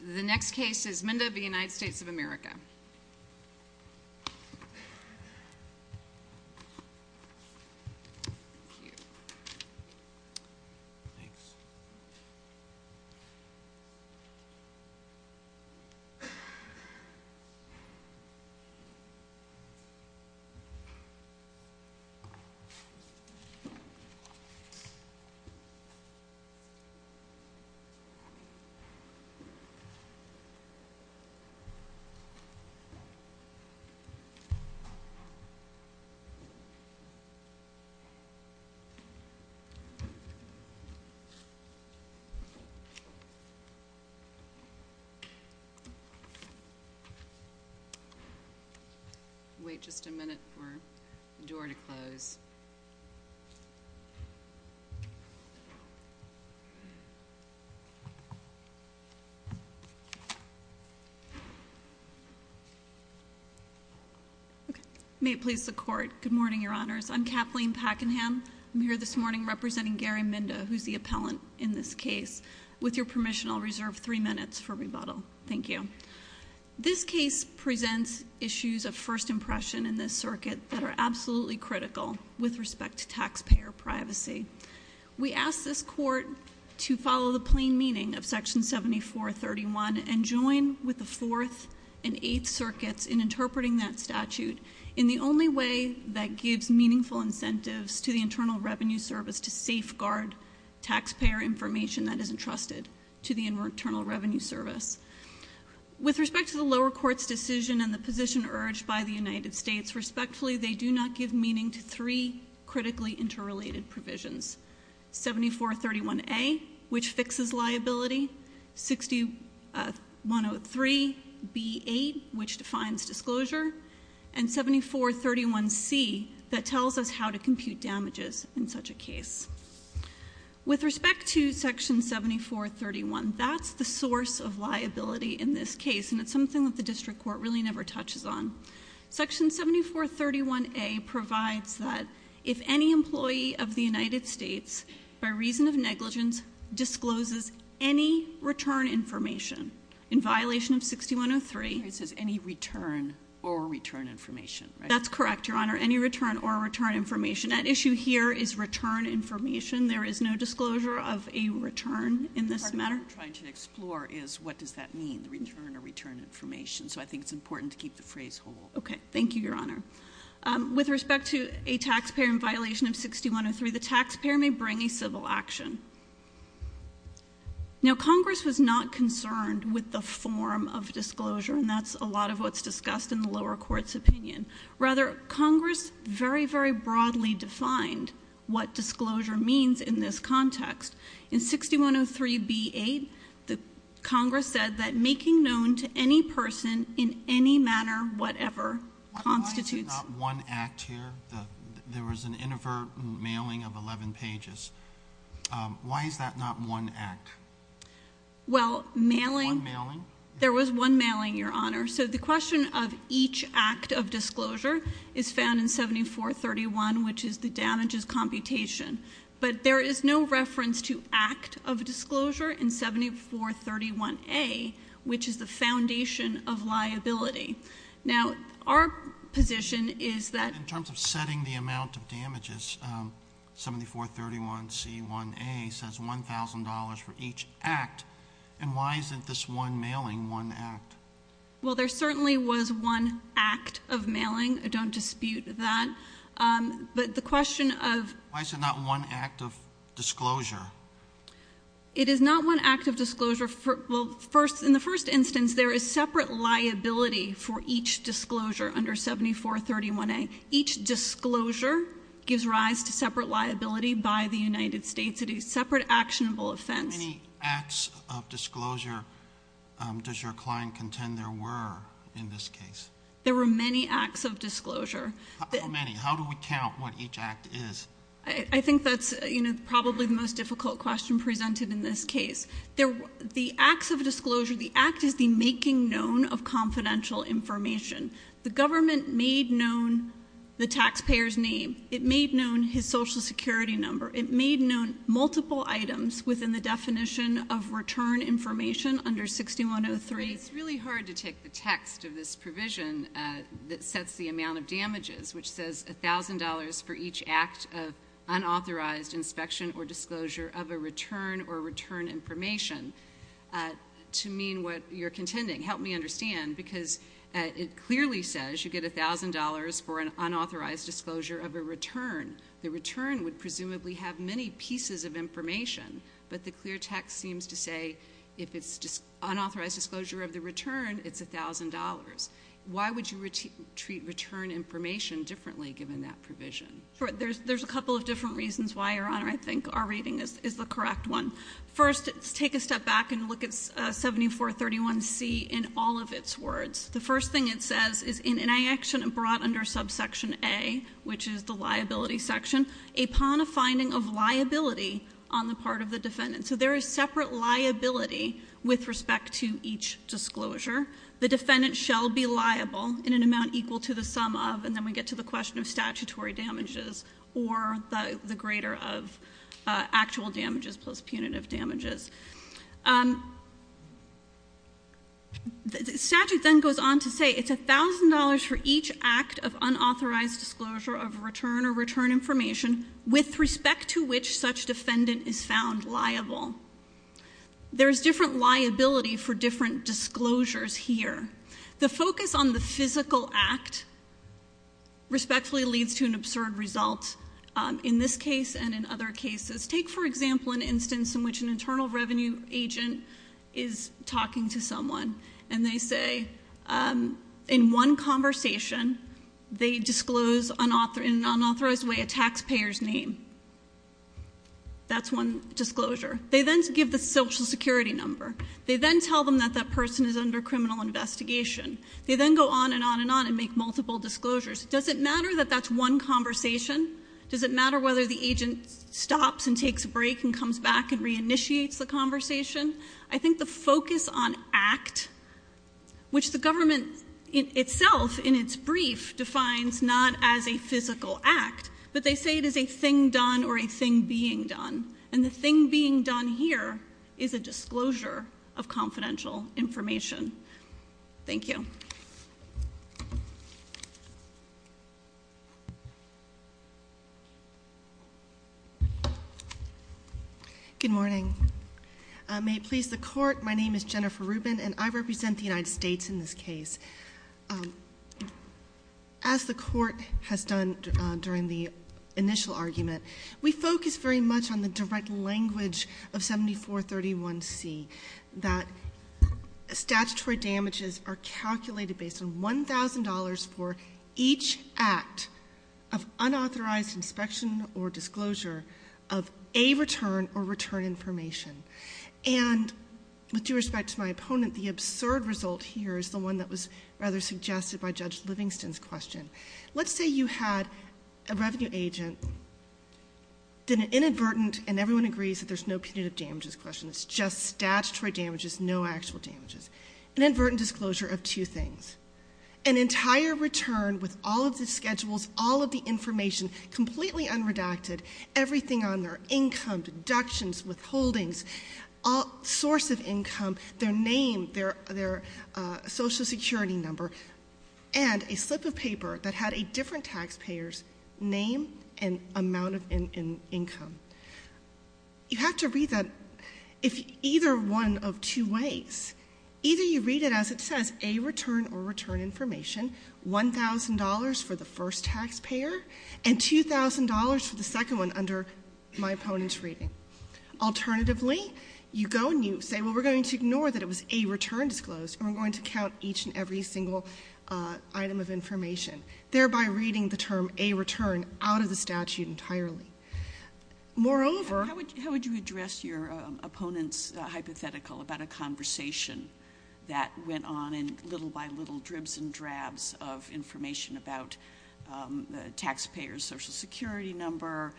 The next case is Minda v. United States of America. Wait just a minute for the door to close. Okay. May it please the court. Good morning, your honors. I'm Kathleen Pakenham. I'm here this morning representing Gary Minda, who's the appellant in this case. With your permission, I'll reserve three minutes for rebuttal. Thank you. This case presents issues of first impression in this circuit that are absolutely critical with respect to taxpayer privacy. We ask this court to follow the plain meaning of Section 7431 and join with the Fourth and Eighth Circuits in interpreting that statute in the only way that gives meaningful incentives to the Internal Revenue Service to safeguard taxpayer information that is entrusted to the Internal Revenue Service. With respect to the lower court's decision and the position urged by the United States, respectfully, they do not give meaning to three critically interrelated provisions. 7431A, which fixes liability, 6103B8, which defines disclosure, and 7431C, that tells With respect to Section 7431, that's the source of liability in this case, and it's something that the district court really never touches on. Section 7431A provides that if any employee of the United States, by reason of negligence, discloses any return information in violation of 6103. It says any return or return information, right? That's correct, your honor. Any return or return information. That issue here is return information. There is no disclosure of a return in this matter. What I'm trying to explore is what does that mean, the return or return information. So I think it's important to keep the phrase whole. Okay, thank you, your honor. With respect to a taxpayer in violation of 6103, the taxpayer may bring a civil action. Now, Congress was not concerned with the form of disclosure, and that's a lot of what's discussed in the lower court's opinion. Rather, Congress very, very broadly defined what disclosure means in this context. In 6103B8, the Congress said that making known to any person in any manner, whatever, constitutes- Why is it not one act here? There was an inadvertent mailing of 11 pages. Why is that not one act? Well, mailing- One mailing? There was one mailing, your honor. So the question of each act of disclosure is found in 7431, which is the damages computation. But there is no reference to act of disclosure in 7431A, which is the foundation of liability. Now, our position is that- In terms of setting the amount of damages, 7431C1A says $1,000 for each act. And why isn't this one mailing one act? Well, there certainly was one act of mailing. I don't dispute that. But the question of- Why is it not one act of disclosure? It is not one act of disclosure. Well, in the first instance, there is separate liability for each disclosure under 7431A. Each disclosure gives rise to separate liability by the United States. It is separate actionable offense. How many acts of disclosure does your client contend there were in this case? There were many acts of disclosure. How many? How do we count what each act is? I think that's probably the most difficult question presented in this case. The acts of disclosure, the act is the making known of confidential information. The government made known the taxpayer's name. It made known his social security number. It made known multiple items within the definition of return information under 6103. It's really hard to take the text of this provision that sets the amount of damages, which says $1,000 for each act of unauthorized inspection or disclosure of a return or return information to mean what you're contending. Help me understand, because it clearly says you get $1,000 for an unauthorized disclosure of a return. The return would presumably have many pieces of information, but the clear text seems to say if it's unauthorized disclosure of the return, it's $1,000. Why would you treat return information differently given that provision? There's a couple of different reasons why, Your Honor, I think our reading is the correct one. First, let's take a step back and look at 7431C in all of its words. The first thing it says is, in an action brought under subsection A, which is the liability section, upon a finding of liability on the part of the defendant. So there is separate liability with respect to each disclosure. The defendant shall be liable in an amount equal to the sum of, and then we get to the question of statutory damages, or the greater of actual damages plus punitive damages. The statute then goes on to say, it's $1,000 for each act of unauthorized disclosure of return or return information with respect to which such defendant is found liable. There's different liability for different disclosures here. The focus on the physical act respectfully leads to an absurd result in this case and in other cases. Take for example, an instance in which an internal revenue agent is talking to someone and they say, in one conversation, they disclose in an unauthorized way a taxpayer's name. That's one disclosure. They then give the social security number. They then tell them that that person is under criminal investigation. They then go on and on and on and make multiple disclosures. Does it matter that that's one conversation? Does it matter whether the agent stops and takes a break and comes back and reinitiates the conversation? I think the focus on act, which the government itself, in its brief, defines not as a physical act, but they say it is a thing done or a thing being done. And the thing being done here is a disclosure of confidential information. Thank you. Good morning. May it please the court, my name is Jennifer Rubin and I represent the United States in this case. As the court has done during the initial argument, we focus very much on the direct language of 7431C. That statutory damages are calculated based on $1,000 for each act of unauthorized inspection or disclosure of a return or return information. And with due respect to my opponent, the absurd result here is the one that was rather suggested by Judge Livingston's question. Let's say you had a revenue agent, did an inadvertent, and everyone agrees that there's no punitive damages question, it's just statutory damages, no actual damages. Inadvertent disclosure of two things. An entire return with all of the schedules, all of the information, completely unredacted, everything on there, income, deductions, withholdings, all source of income, their name, their social security number, and a slip of paper that had a different taxpayer's name and amount of income. You have to read that either one of two ways. Either you read it as it says, a return or return information, $1,000 for the first taxpayer, and $2,000 for the second one under my opponent's reading. Alternatively, you go and you say, well, we're going to ignore that it was a return disclosed, and we're going to count each and every single item of information, thereby reading the term a return out of the statute entirely. Moreover- How would you address your opponent's hypothetical about a conversation that went on in little by little dribs and drabs of information about the taxpayer's social security number,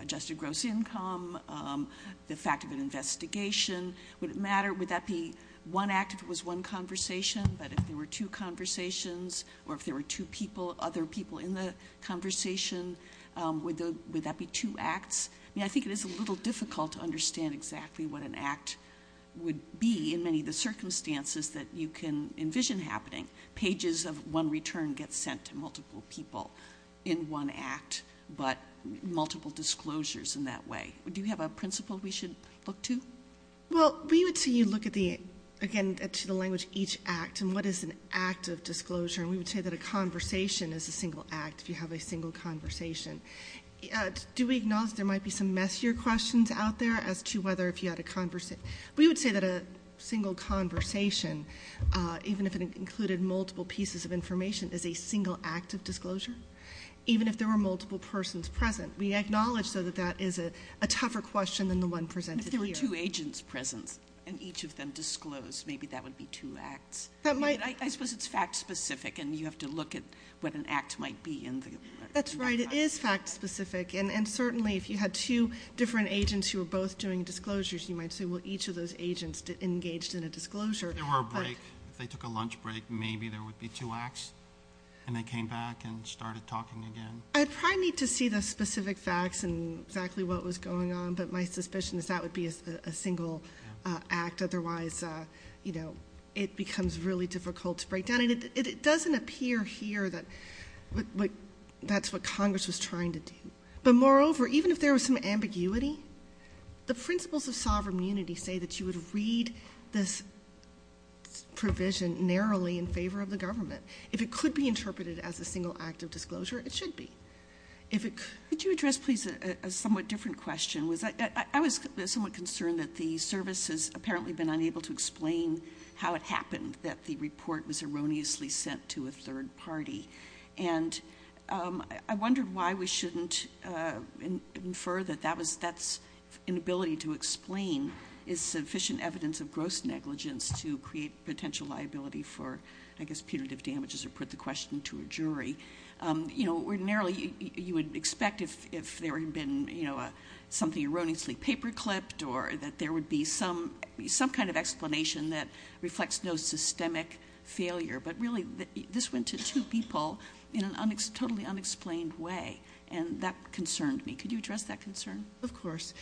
adjusted gross income, the fact of an investigation. Would it matter, would that be one act if it was one conversation, but if there were two conversations, or if there were two people, other people in the conversation, would that be two acts? I think it is a little difficult to understand exactly what an act would be in many of the circumstances that you can envision happening. Pages of one return get sent to multiple people in one act, but multiple disclosures in that way. Do you have a principle we should look to? Well, we would say you look at the, again, to the language each act, and what is an act of disclosure. And we would say that a conversation is a single act if you have a single conversation. Do we acknowledge there might be some messier questions out there as to whether if you had a conversation. We would say that a single conversation, even if it included multiple pieces of information, is a single act of disclosure, even if there were multiple persons present. We acknowledge, though, that that is a tougher question than the one presented here. If there were two agents present, and each of them disclosed, maybe that would be two acts. I mean, I suppose it's fact specific, and you have to look at what an act might be in that. That's right, it is fact specific. And certainly, if you had two different agents who were both doing disclosures, you might say, well, each of those agents engaged in a disclosure. There were a break, if they took a lunch break, maybe there would be two acts, and they came back and started talking again. I'd probably need to see the specific facts and exactly what was going on, but my suspicion is that would be a single act, otherwise it becomes really difficult to break down. And it doesn't appear here that that's what Congress was trying to do. But moreover, even if there was some ambiguity, the principles of sovereign unity say that you would read this provision narrowly in favor of the government. If it could be interpreted as a single act of disclosure, it should be. If it could- Could you address, please, a somewhat different question? I was somewhat concerned that the service has apparently been unable to explain how it happened that the report was erroneously sent to a third party. And I wondered why we shouldn't infer that that's an ability to explain is sufficient evidence of gross negligence to create potential liability for, I guess, punitive damages, or put the question to a jury. Ordinarily, you would expect if there had been something erroneously paper clipped, or that there would be some kind of explanation that reflects no systemic failure. But really, this went to two people in a totally unexplained way, and that concerned me. Could you address that concern? Of course.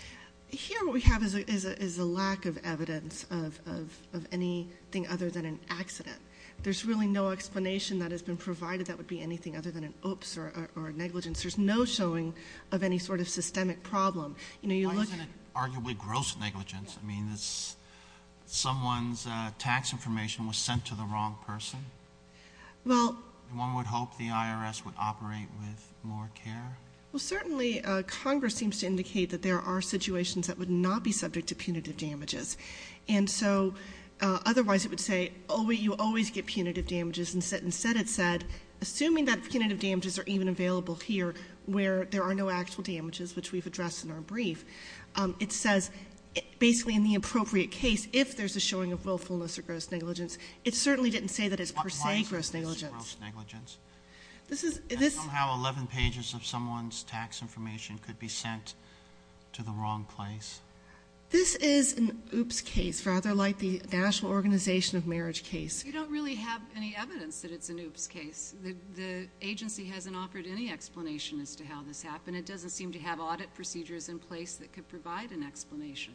Here what we have is a lack of evidence of anything other than an accident. There's really no explanation that has been provided that would be anything other than an oops or a negligence. There's no showing of any sort of systemic problem. You know, you look- Why isn't it arguably gross negligence? I mean, someone's tax information was sent to the wrong person. Well- One would hope the IRS would operate with more care. Well, certainly, Congress seems to indicate that there are situations that would not be subject to punitive damages. And so, otherwise, it would say, you always get punitive damages. Instead, it said, assuming that punitive damages are even available here, where there are no actual damages, which we've addressed in our brief. It says, basically, in the appropriate case, if there's a showing of willfulness or gross negligence. It certainly didn't say that it's per se gross negligence. Why isn't this gross negligence? Somehow, 11 pages of someone's tax information could be sent to the wrong place. This is an oops case, rather like the National Organization of Marriage case. You don't really have any evidence that it's an oops case. The agency hasn't offered any explanation as to how this happened. It doesn't seem to have audit procedures in place that could provide an explanation.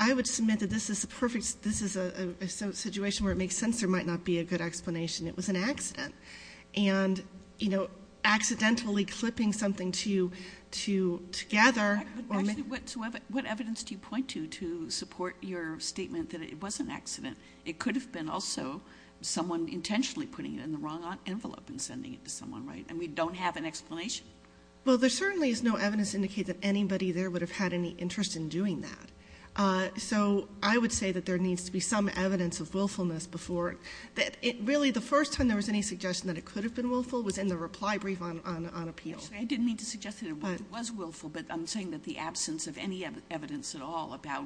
I would submit that this is a perfect, this is a situation where it makes sense there might not be a good explanation. It was an accident. And, you know, accidentally clipping something together- But actually, what evidence do you point to to support your statement that it was an accident? It could have been also someone intentionally putting it in the wrong envelope and sending it to someone, right? And we don't have an explanation? Well, there certainly is no evidence to indicate that anybody there would have had any interest in doing that. So, I would say that there needs to be some evidence of willfulness before, that really the first time there was any suggestion that it could have been willful was in the reply brief on appeal. I didn't mean to suggest that it was willful, but I'm saying that the absence of any evidence at all about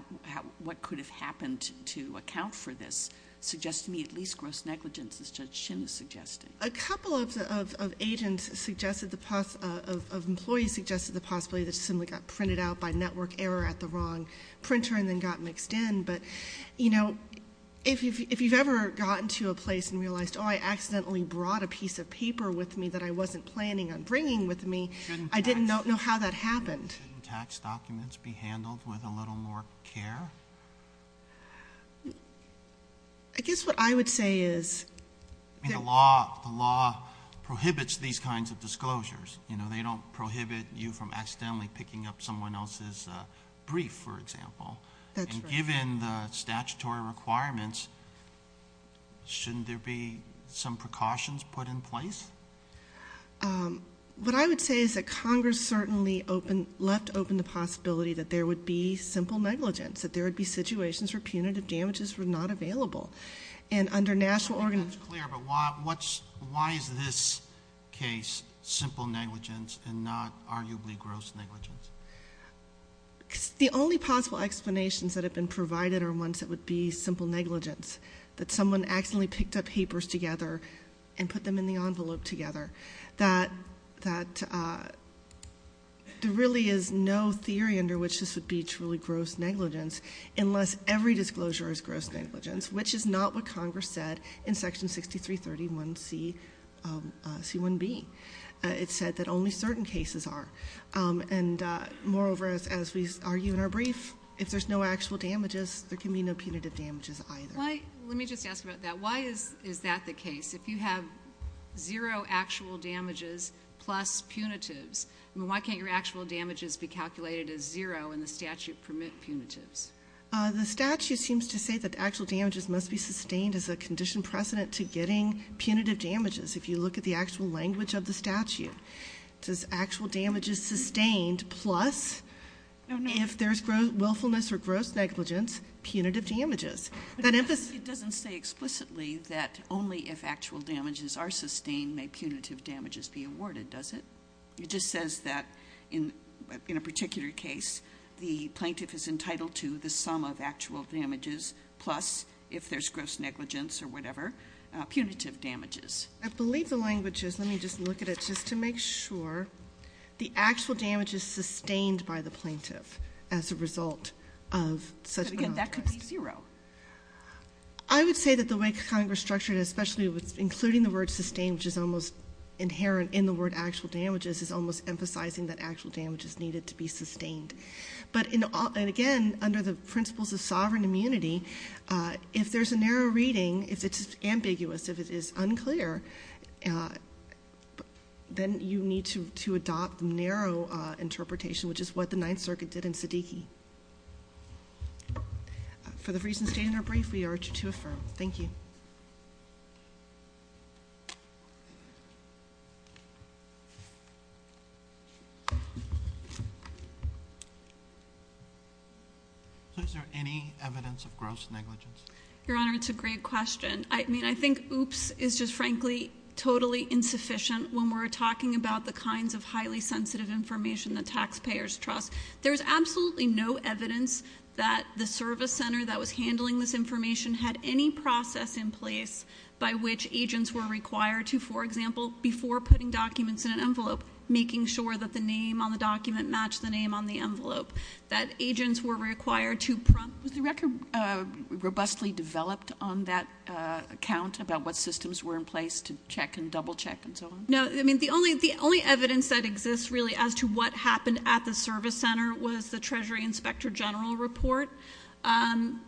what could have happened to account for this suggests to me at least gross negligence, as Judge Shin is suggesting. A couple of agents suggested, of employees suggested the possibility that it simply got printed out by network error at the wrong printer and then got mixed in. But, you know, if you've ever gotten to a place and realized, I accidentally brought a piece of paper with me that I wasn't planning on bringing with me, I didn't know how that happened. Shouldn't tax documents be handled with a little more care? I guess what I would say is- The law prohibits these kinds of disclosures. They don't prohibit you from accidentally picking up someone else's brief, for example. And given the statutory requirements, shouldn't there be some precautions put in place? What I would say is that Congress certainly left open the possibility that there would be simple negligence, that there would be situations where punitive damages were not available. And under national- I don't think that's clear, but why is this case simple negligence and not arguably gross negligence? Because the only possible explanations that have been provided are ones that would be simple negligence. That someone accidentally picked up papers together and put them in the envelope together. That there really is no theory under which this would be truly gross negligence, unless every disclosure is gross negligence, which is not what Congress said in section 6331C, C1B. It said that only certain cases are. And moreover, as we argue in our brief, if there's no actual damages, there can be no punitive damages either. Let me just ask about that. Why is that the case? If you have zero actual damages plus punitives, why can't your actual damages be calculated as zero and the statute permit punitives? The statute seems to say that actual damages must be sustained as a condition precedent to getting punitive damages. If you look at the actual language of the statute, it says actual damages sustained plus. If there's willfulness or gross negligence, punitive damages. That emphasis- It doesn't say explicitly that only if actual damages are sustained, may punitive damages be awarded, does it? It just says that in a particular case, the plaintiff is entitled to the sum of actual damages plus, if there's gross negligence or whatever, punitive damages. I believe the language is, let me just look at it just to make sure, the actual damage is sustained by the plaintiff as a result of such- Again, that could be zero. I would say that the way Congress structured it, especially with including the word sustain, which is almost inherent in the word actual damages, is almost emphasizing that actual damages needed to be sustained. But again, under the principles of sovereign immunity, if there's a narrow reading, if it's ambiguous, if it is unclear, then you need to adopt narrow interpretation, which is what the Ninth Circuit did in Siddiqui. For the reasons stated in our brief, we urge you to affirm. Thank you. So is there any evidence of gross negligence? Your Honor, it's a great question. I mean, I think oops is just frankly totally insufficient when we're talking about the kinds of highly sensitive information that taxpayers trust. There's absolutely no evidence that the service center that was handling this information had any process in place by which agents were required to, for example, before putting documents in an envelope, making sure that the name on the document matched the name on the envelope, that agents were required to prompt. Was the record robustly developed on that account about what systems were in place to check and double check and so on? No, I mean, the only evidence that exists really as to what happened at the service center was the treasury inspector general report.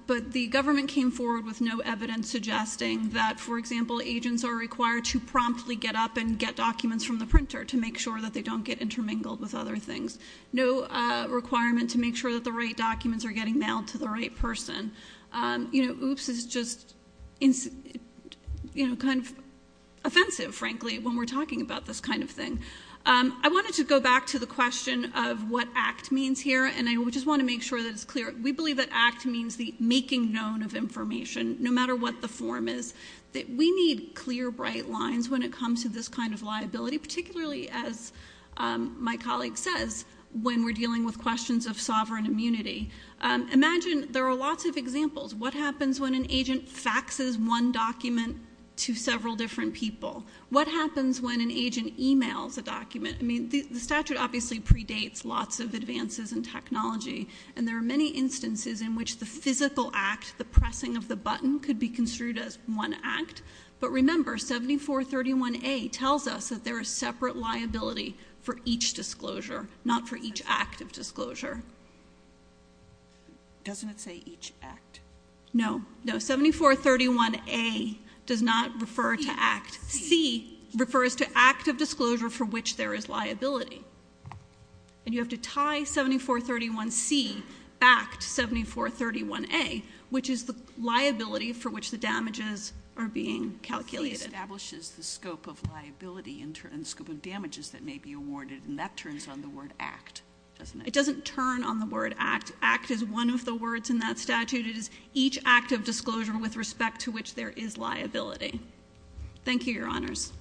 But the government came forward with no evidence suggesting that, for example, agents are required to promptly get up and get documents from the printer to make sure that they don't get intermingled with other things. No requirement to make sure that the right documents are getting mailed to the right person. Oops is just kind of offensive, frankly, when we're talking about this kind of thing. I wanted to go back to the question of what act means here, and I just want to make sure that it's clear. We believe that act means the making known of information, no matter what the form is. That we need clear, bright lines when it comes to this kind of liability, particularly as my colleague says, when we're dealing with questions of sovereign immunity. Imagine there are lots of examples. What happens when an agent faxes one document to several different people? What happens when an agent emails a document? I mean, the statute obviously predates lots of advances in technology, and there are many instances in which the physical act, the pressing of the button, could be construed as one act. But remember, 7431A tells us that there is separate liability for each disclosure, not for each act of disclosure. Doesn't it say each act? No, no, 7431A does not refer to act. C refers to act of disclosure for which there is liability. And you have to tie 7431C back to 7431A, which is the liability for which the damages are being calculated. It establishes the scope of liability and scope of damages that may be awarded, and that turns on the word act, doesn't it? It doesn't turn on the word act. Act is one of the words in that statute. It is each act of disclosure with respect to which there is liability. Thank you, your honors.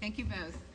Thank you both.